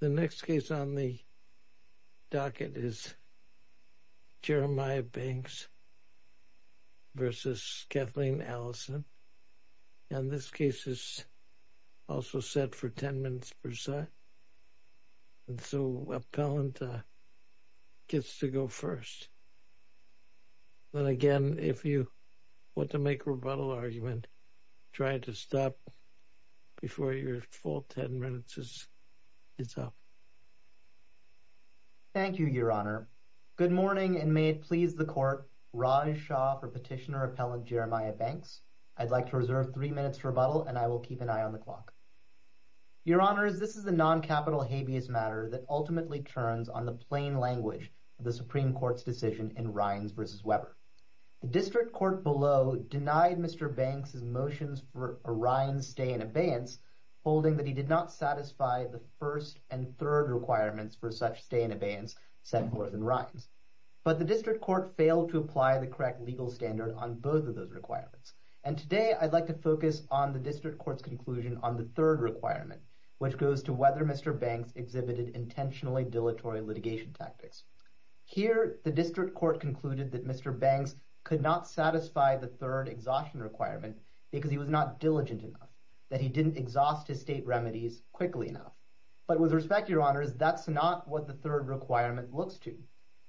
The next case on the docket is Jeremiah Banks v. Kathleen Allison, and this case is also set for 10 minutes per side, and so appellant gets to go first. Then again, if you want to make a rebuttal argument, try to stop before your full 10 minutes is up. Thank you, Your Honor. Good morning, and may it please the Court, Raj Shah for Petitioner Appellant Jeremiah Banks. I'd like to reserve three minutes for rebuttal, and I will keep an eye on the clock. Your Honors, this is a non-capital habeas matter that ultimately turns on the plain language of the Supreme Court's decision in Rines v. Weber. The District Court below denied Mr. Banks' motions for a Rines stay in abeyance, holding that he did not satisfy the first and third requirements for such stay in abeyance set forth in Rines. But the District Court failed to apply the correct legal standard on both of those requirements, and today I'd like to focus on the District Court's conclusion on the third requirement, which goes to whether Mr. Banks exhibited intentionally dilatory litigation tactics. Here, the District Court concluded that Mr. Banks could not satisfy the third exhaustion requirement because he was not diligent enough, that he didn't exhaust his state remedies quickly enough. But with respect, Your Honors, that's not what the third requirement looks to.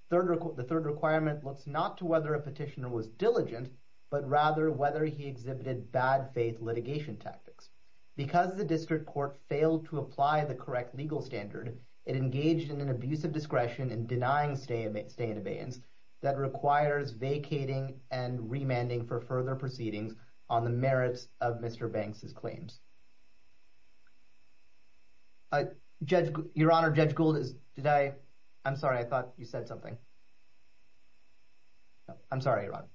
The third requirement looks not to whether a petitioner was diligent, but rather whether he exhibited bad faith litigation tactics. Because the District Court failed to apply the correct legal standard, it engaged in an abuse of discretion in denying stay in abeyance that requires vacating and remanding for further proceedings on the merits of Mr. Banks' claims. Your Honor, Judge Gould, I'm sorry, I thought you said something. I'm sorry, Your Honor.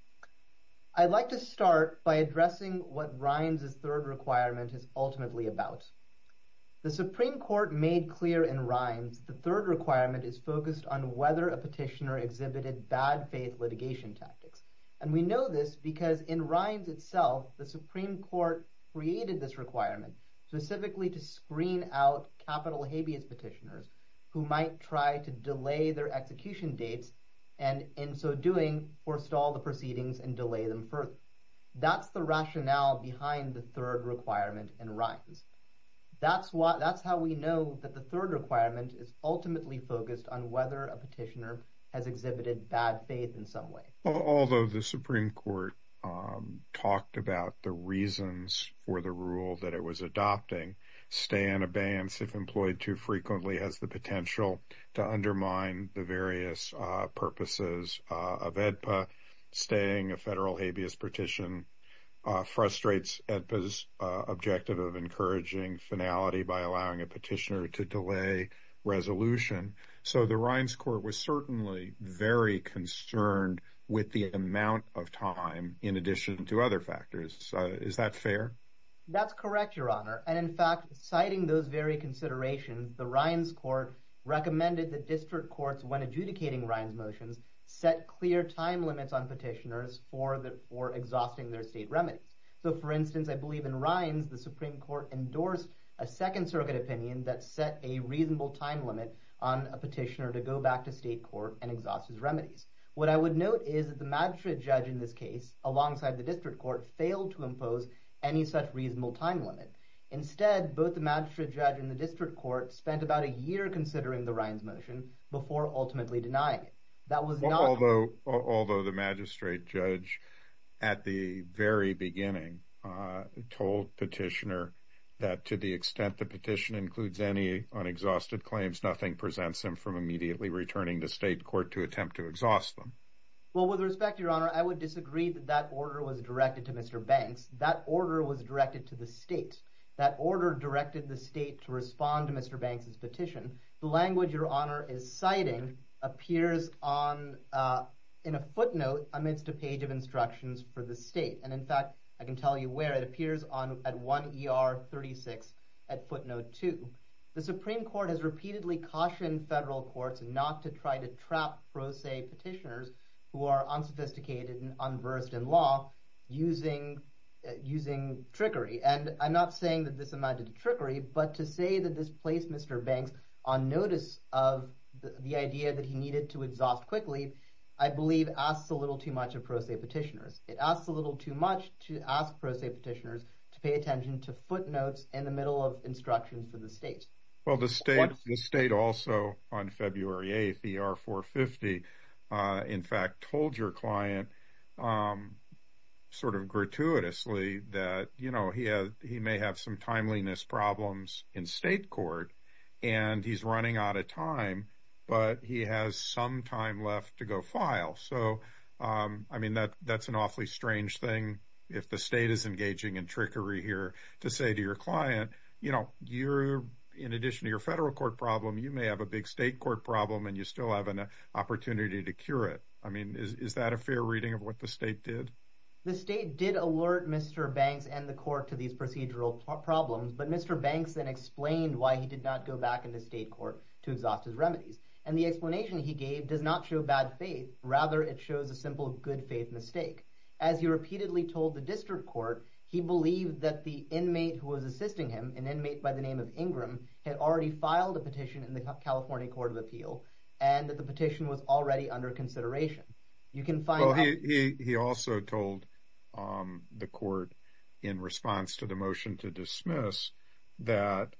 I'd like to start by addressing what Rines' third requirement is ultimately about. The Supreme Court made clear in Rines the third requirement is focused on whether a petitioner exhibited bad faith litigation tactics. And we know this because in Rines itself, the Supreme Court created this requirement specifically to screen out capital habeas petitioners who might try to delay their execution dates, and in so doing, forestall the proceedings and delay them further. That's the rationale behind the third requirement in Rines. That's how we know that the third requirement is ultimately focused on whether a petitioner has exhibited bad faith in some way. Although the Supreme Court talked about the reasons for the rule that it was adopting, stay in abeyance if employed too frequently has the potential to undermine the various purposes of AEDPA, staying a federal habeas petition frustrates AEDPA's objective of encouraging finality by allowing a petitioner to delay resolution. So the Rines Court was certainly very concerned with the amount of time in addition to other factors. Is that fair? That's correct, Your Honor. And in fact, citing those very considerations, the Rines Court recommended that district courts, when adjudicating Rines motions, set clear time limits on petitioners for exhausting their state remedies. So for instance, I believe in Rines, the Supreme Court endorsed a Second Circuit opinion that set a reasonable time limit on a petitioner to go back to state court and exhaust his remedies. What I would note is that the magistrate judge in this case, alongside the district court, failed to impose any such time limit. Instead, both the magistrate judge and the district court spent about a year considering the Rines motion before ultimately denying it. Although the magistrate judge at the very beginning told petitioner that to the extent the petition includes any unexhausted claims, nothing presents him from immediately returning to state court to attempt to exhaust them. Well, with respect, Your Honor, I would disagree that that order was directed to Mr. Banks. That order was directed to the state. That order directed the state to respond to Mr. Banks's petition. The language Your Honor is citing appears in a footnote amidst a page of instructions for the state. And in fact, I can tell you where. It appears at 1 ER 36 at footnote 2. The Supreme Court has repeatedly cautioned federal courts not to try to trap pro se petitioners who are unsophisticated and unversed in law using trickery. And I'm not saying that this amounted to trickery, but to say that this placed Mr. Banks on notice of the idea that he needed to exhaust quickly, I believe asks a little too much of pro se petitioners. It asks a little too much to ask pro se petitioners to pay attention to footnotes in the middle of instructions for the state. Well, the state also on February 8th, ER 450, in fact, told your client sort of gratuitously that he may have some timeliness problems in state court and he's running out of time, but he has some time left to go file. So, I mean, that's an awfully strange thing. If the state is engaging in trickery here to say to your client, you know, you're in addition to your federal court problem, you may have a big state court problem and you still have an opportunity to cure it. I mean, is that a fair reading of what the state did? The state did alert Mr. Banks and the court to these procedural problems, but Mr. Banks then explained why he did not go back into state court to exhaust his remedies. And the explanation he gave does not show bad faith. Rather, it shows a simple good faith mistake. As he repeatedly told the district court, he believed that the inmate who was assisting him, an inmate by the name of Ingram, had already filed a petition in the California Court of Appeal and that the petition was already under consideration. You can find... He also told the court in response to the motion to dismiss that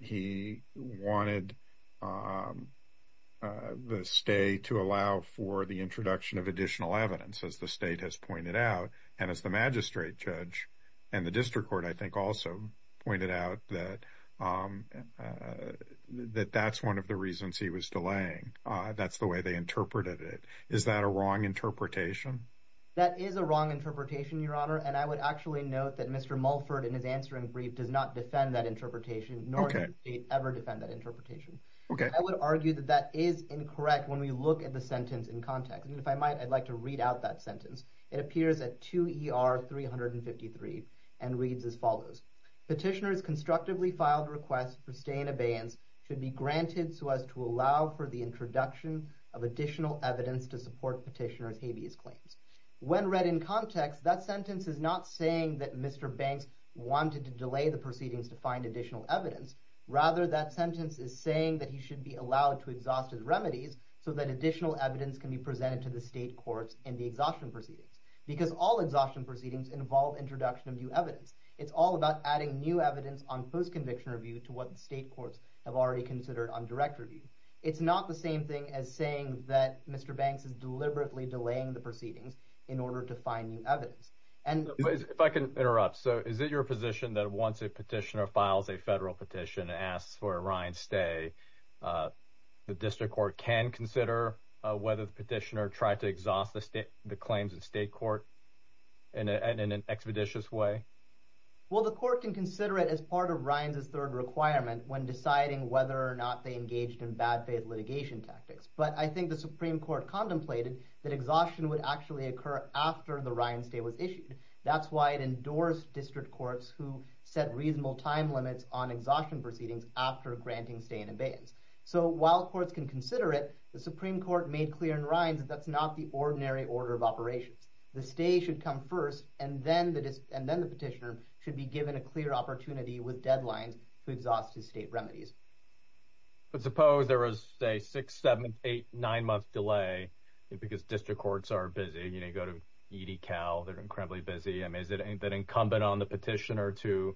he wanted the state to allow for the introduction of additional evidence, as the state has pointed out. And as the magistrate judge and the district court, I think, also pointed out that that's one of the reasons he was delaying. That's the way they interpreted it. Is that a wrong interpretation? That is a wrong interpretation, Your Honor. And I would actually note that Mr. Mulford, in his answering brief, does not defend that interpretation, nor does the state ever defend that interpretation. I would argue that that is incorrect when we look at the sentence in context. And if I might, I'd like to read out that sentence. It appears at 2 ER 353 and reads as follows. Petitioners constructively filed requests for stay in abeyance should be granted so as to allow for the introduction of additional evidence to support petitioners' habeas claims. When read in context, that sentence is not saying that Mr. Banks wanted to delay the proceedings to find additional evidence. Rather, that sentence is saying that he should be allowed to exhaust his remedies so that additional evidence can be presented to the state courts in the exhaustion proceedings. Because all exhaustion proceedings involve introduction of new evidence. It's all about adding new evidence on post-conviction review to what the state courts have already considered on direct review. It's not the same thing as saying that Mr. Banks is deliberately delaying the proceedings in order to find new evidence. And if I can interrupt, so is it your position that once a petitioner files a federal petition and asks for a Ryan stay, the district court can consider whether the petitioner tried to exhaust the state, the claims in state court and in an expeditious way? Well, the court can consider it as part of Ryan's third requirement when deciding whether or not they engaged in bad faith litigation tactics. But I think the Supreme Court contemplated that exhaustion would actually occur after the Ryan stay was issued. That's why it endorsed district courts who set reasonable time limits on exhaustion proceedings after granting stay in abeyance. So while courts can consider it, the Supreme Court made clear in Ryan's that that's not the ordinary order of operations. The stay should come first and then the petitioner should be given a clear opportunity with deadlines to exhaust his state remedies. But suppose there was a six, seven, eight, nine month delay because district courts are busy, you know, you go to ED Cal, they're incredibly busy. I mean, is it incumbent on the petitioner to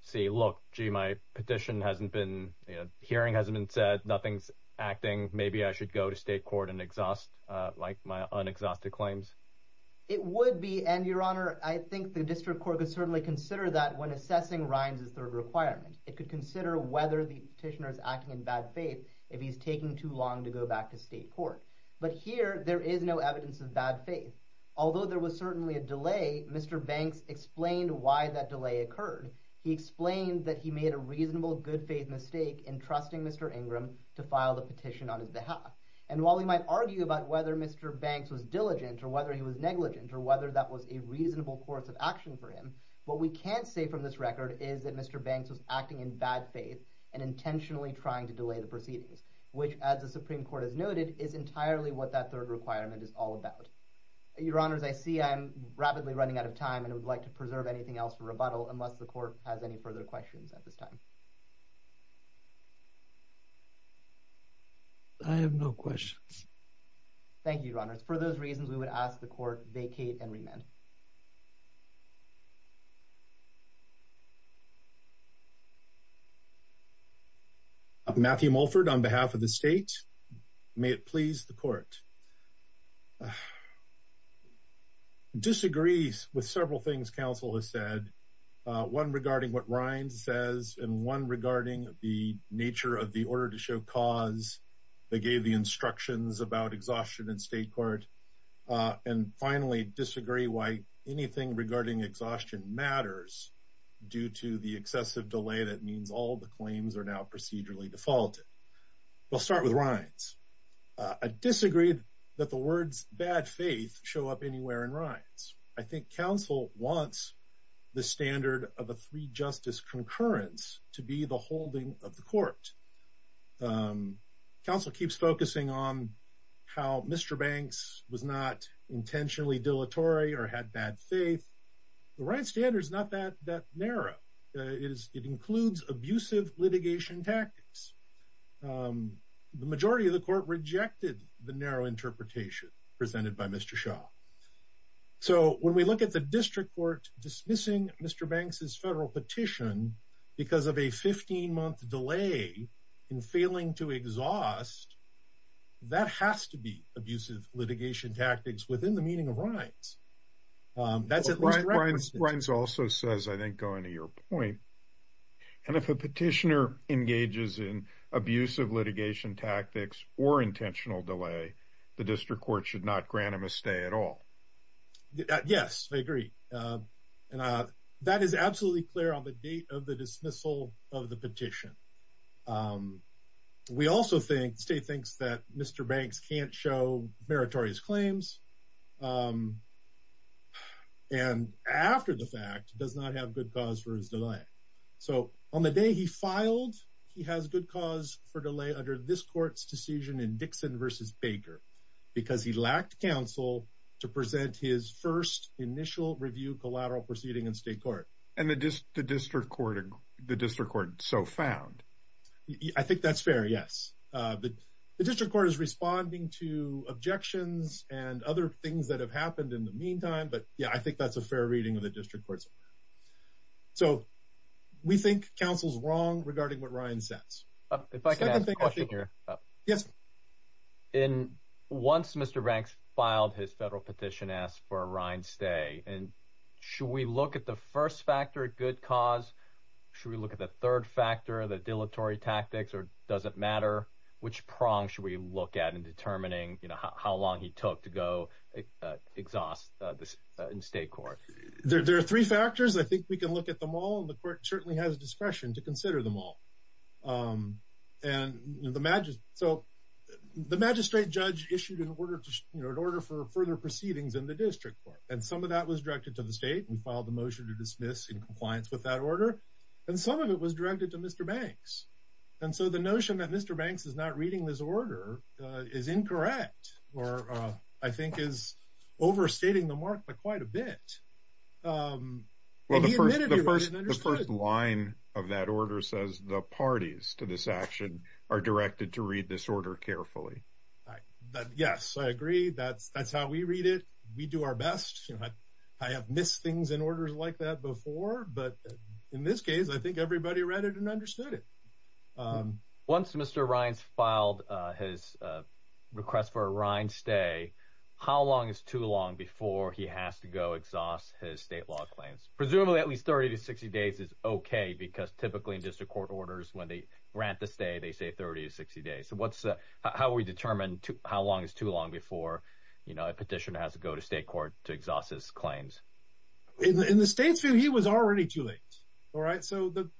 say, look, gee, my petition hasn't been, you know, hearing hasn't been said, nothing's acting. Maybe I should go to state court and exhaust like my unexhausted claims. It would be. And your honor, I think the district court could certainly consider that when assessing Ryan's third requirement. It could consider whether the petitioner is acting in bad faith if he's taking too long to go back to state court. But here there is no evidence of bad faith. Although there was certainly a delay, Mr. Banks explained why that delay occurred. He explained that he made a reasonable good faith mistake in trusting Mr. Ingram to file the petition on his behalf. And while we might argue about whether Mr. Banks was diligent or whether he was negligent or whether that was a reasonable course of action for him, what we can't say from this record is that Mr. Banks was acting in bad faith and intentionally trying to delay the proceedings, which as the Supreme Court has noted is entirely what that third requirement is all about. Your honors, I see I'm rapidly running out of time and would like to preserve anything else for rebuttal unless the court has any further questions at this time. I have no questions. Thank you, your honors. For those reasons, we would ask the court vacate and remand. Matthew Mulford on behalf of the state. May it please the court. Disagrees with several things counsel has said. One regarding what Ryan says and one regarding the nature of the order to show cause. They gave the instructions about exhaustion in state court and finally disagree why anything regarding exhaustion matters due to the excessive delay that means all the claims are now procedurally defaulted. We'll start with Ryan's. I disagreed that the words bad faith show up anywhere in I think counsel wants the standard of a three justice concurrence to be the holding of the court. Counsel keeps focusing on how Mr. Banks was not intentionally dilatory or had bad faith. The right standard is not that narrow. It includes abusive litigation tactics. The majority of the court rejected the narrow interpretation presented by Mr. Shaw. So, when we look at the district court dismissing Mr. Banks' federal petition because of a 15-month delay in failing to exhaust, that has to be abusive litigation tactics within the meaning of Ryan's. Ryan's also says, I think going to your point, and if a petitioner engages in abusive litigation tactics or intentional delay, the district court should not grant him a stay at all. Yes, I agree. And that is absolutely clear on the date of the dismissal of the petition. We also think, state thinks that Mr. Banks can't show meritorious claims and after the fact does not have good cause for his delay. So, on the day he filed, he has good cause for delay under this court's decision in Dixon versus Baker because he lacked counsel to present his first initial review collateral proceeding in state court. And the district court so found. I think that's fair, yes. The district court is responding to objections and other things that have happened in the meantime, but yeah, I think that's a fair reading of the district court's. So, we think counsel's wrong regarding what Ryan says. If I can ask a question here. Yes. Once Mr. Banks filed his federal petition, asked for a Ryan's stay, and should we look at the first factor, good cause? Should we look at the third factor, the dilatory tactics, or does it matter? Which prong should we look at in determining, you know, how long he took to go exhaust in state court? There are three factors. I think we can look at them all, and the court certainly has discretion to consider them all. So, the magistrate judge issued an order for further proceedings in the district court, and some of that was directed to the state. We filed the motion to dismiss in compliance with that order, and some of it was directed to Mr. Banks. And so, the notion that Mr. Banks is not reading this order is incorrect, or I think is overstating the mark by quite a bit. Well, the first line of that order says the parties to this action are directed to read this order carefully. Yes, I agree. That's how we read it. We do our best. I have missed things in orders like that before, but in this case, I think everybody read it and understood it. Once Mr. Rines filed his request for a Rines stay, how long is too long before he has to go exhaust his state law claims? Presumably, at least 30 to 60 days is okay, because typically, in district court orders, when they grant the stay, they say 30 to 60 days. So, how do we determine how long is too long before, you know, a petitioner has to go to state court to exhaust his claims? In the state's view, he was already too late, all right? So, the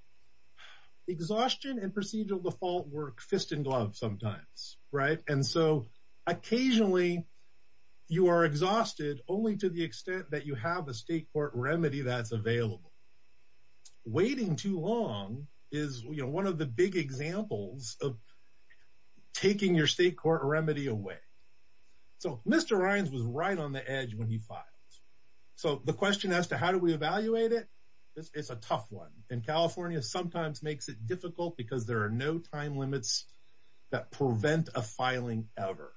exhaustion and procedural default work fist in glove sometimes, right? And so, occasionally, you are exhausted only to the extent that you have a state court remedy that's available. Waiting too long is, you know, one of the big examples of taking your state court remedy away. So, Mr. Rines was right on the edge when he filed. So, the question as to how do we evaluate it, it's a tough one. And California sometimes makes it difficult because there are no time limits that prevent a filing ever.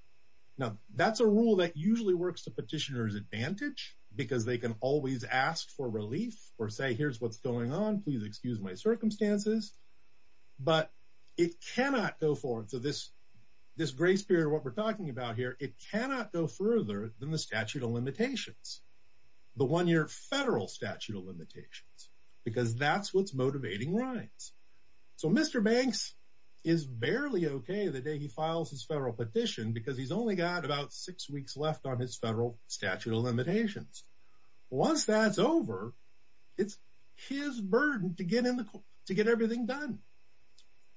Now, that's a rule that usually works the petitioner's advantage because they can always ask for relief or say, here's what's going on, please excuse my circumstances. But it cannot go forward. So, this grace period, what we're talking about here, it cannot go further than the statute of limitations, the one-year federal statute of limitations because that's what's motivating Rines. So, Mr. Banks is barely okay the day he files his federal petition because he's only got about six weeks left on his federal statute of limitations. Once that's over, it's his burden to get everything done.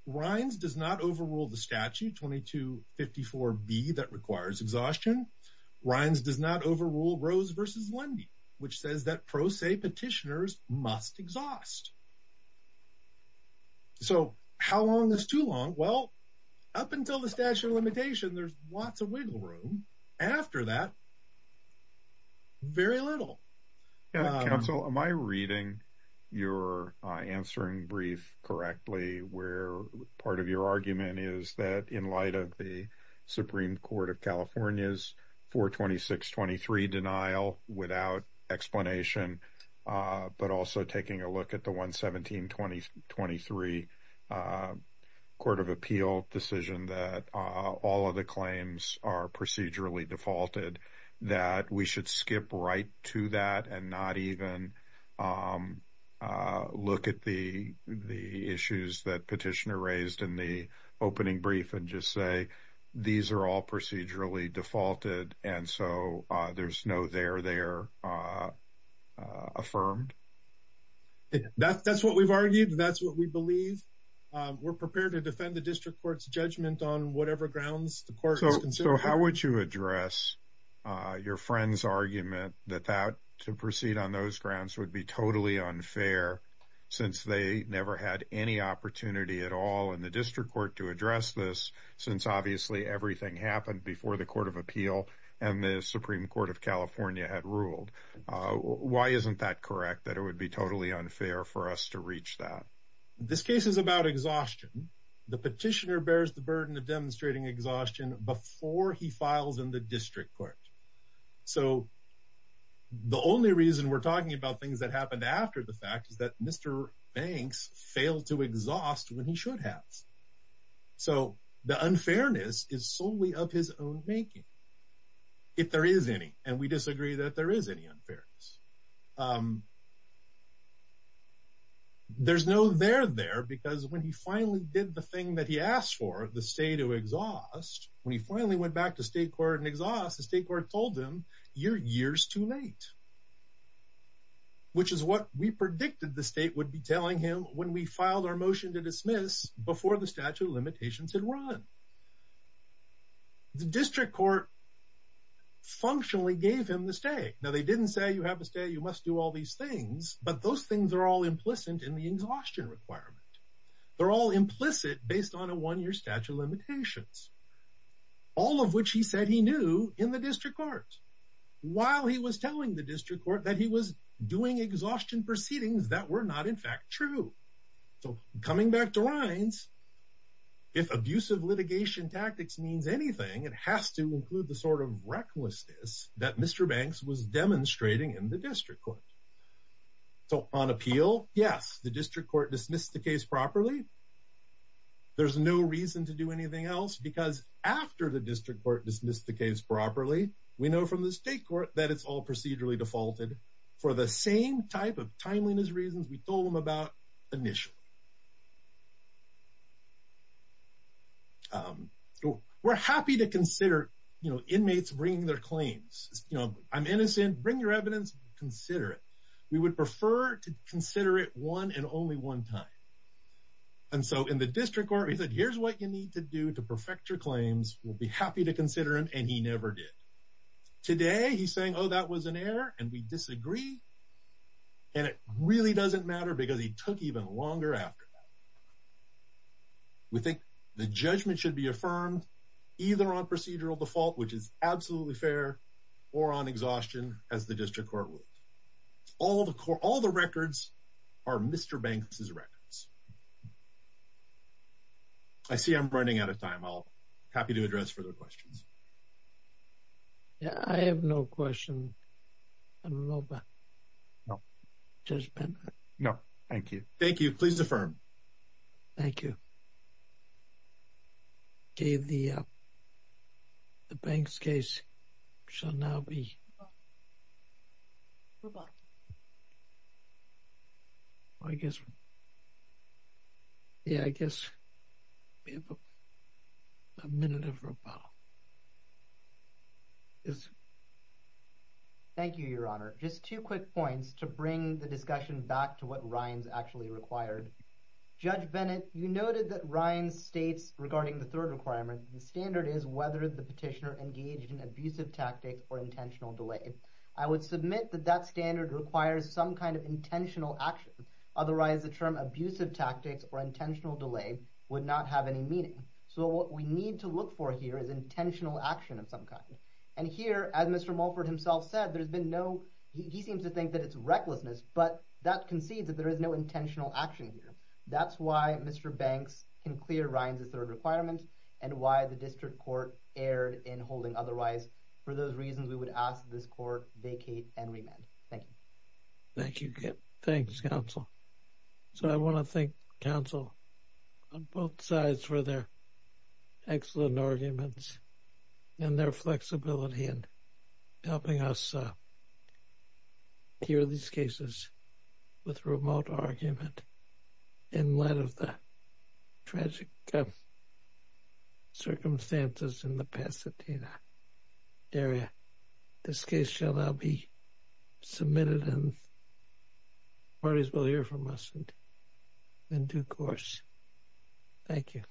Rines does not overrule the statute 2254B that requires exhaustion. Rines does not overrule Rose versus Lundy, which says that pro se petitioners must exhaust. So, how long is too long? Well, up until the statute of limitation, there's lots of wiggle room. After that, very little. Yeah, counsel, am I reading your answering brief correctly where part of your argument is that in light of the Supreme Court of California's 426-23 denial without explanation, but also taking a look at the 117-23 Court of Appeal decision that all of the claims are procedurally defaulted, that we should skip right to that and not even look at the issues that petitioner raised in the opening brief and just say, these are all procedurally defaulted and so there's no there, there affirmed? That's what we've argued and that's what we believe. We're prepared to defend the district court's judgment on whatever grounds the court is considering. So, how would you address your friend's argument that that to proceed on those grounds would be totally unfair since they never had any opportunity at all in the district court to address this since obviously everything happened before the Court of Appeal and the Supreme Court of California had ruled? Why isn't that correct that it would be totally unfair for us to reach that? This case is about exhaustion. The petitioner bears the burden of demonstrating exhaustion before he files in the district court. So, the only reason we're talking about things that happened after the fact is that Mr. Banks failed to exhaust when he should have. So, the unfairness is solely of his own making, if there is any, and we disagree that there is any unfairness. There's no there, there because when he finally did the thing that he asked for, the stay to exhaust, when he finally went back to state court and exhaust, the state court told him you're years too late, which is what we predicted the state would be telling him when we filed our motion to dismiss before the statute of limitations had run. The district court functionally gave him the stay. Now, they didn't say you have to stay, you must do all these things, but those things are all implicit in the exhaustion requirement. They're all implicit based on a one-year statute of limitations, all of which he said he knew in the district court while he was telling the district court that he was doing exhaustion proceedings that were not in fact true. So, coming back to Rines, if abusive litigation tactics means anything, it has to include the sort of recklessness that Mr. Banks was demonstrating in the district court. So, on appeal, yes, the district court dismissed the case properly. There's no reason to do anything else because after the district court dismissed the case properly, we know from the state court that it's all procedurally defaulted for the same type of timeliness reasons we told them about initially. We're happy to consider, you know, inmates bringing their claims. You know, I'm innocent, bring your evidence, consider it. We would prefer to consider it one and only one time. And so, in the district court, he said, here's what you need to do to perfect your claims. We'll be happy to consider him, and he never did. Today, he's saying, oh, that was an error, and we disagree, and it really doesn't matter because he took even longer after that. We think the judgment should be affirmed either on procedural default, which is absolutely fair, or on exhaustion, as the district court ruled. All the records are Mr. Banks's records. I see I'm running out of time. I'll be happy to address further questions. Yeah, I have no question. I don't know about it. No, thank you. Thank you. Please affirm. Thank you. The Banks case shall now be rebuttal. I guess, yeah, I guess a minute of rebuttal. Thank you, Your Honor. Just two quick points to bring the discussion back to what Ryan's actually required. Judge Bennett, you noted that Ryan states regarding the third requirement, the standard is whether the petitioner engaged in abusive tactics or intentional delay. I would submit that that standard requires some kind of intentional action. Otherwise, the term abusive tactics or intentional delay would not have any meaning. So, what we need to look for here is intentional action of some kind. And here, as Mr. Mulford himself said, there's been no, he seems to think that it's recklessness, but that concedes that there is no intentional action here. That's why Mr. Banks can clear Ryan's third requirement and why the district court erred in holding otherwise. For those reasons, we would ask this court vacate and remand. Thank you. Thank you. Thanks, counsel. So, I want to thank counsel on both sides for their excellent arguments and their flexibility in helping us hear these cases with remote argument in light of the tragic circumstances in the Pasadena area. This case shall now be submitted and parties will hear from us in due course. Thank you.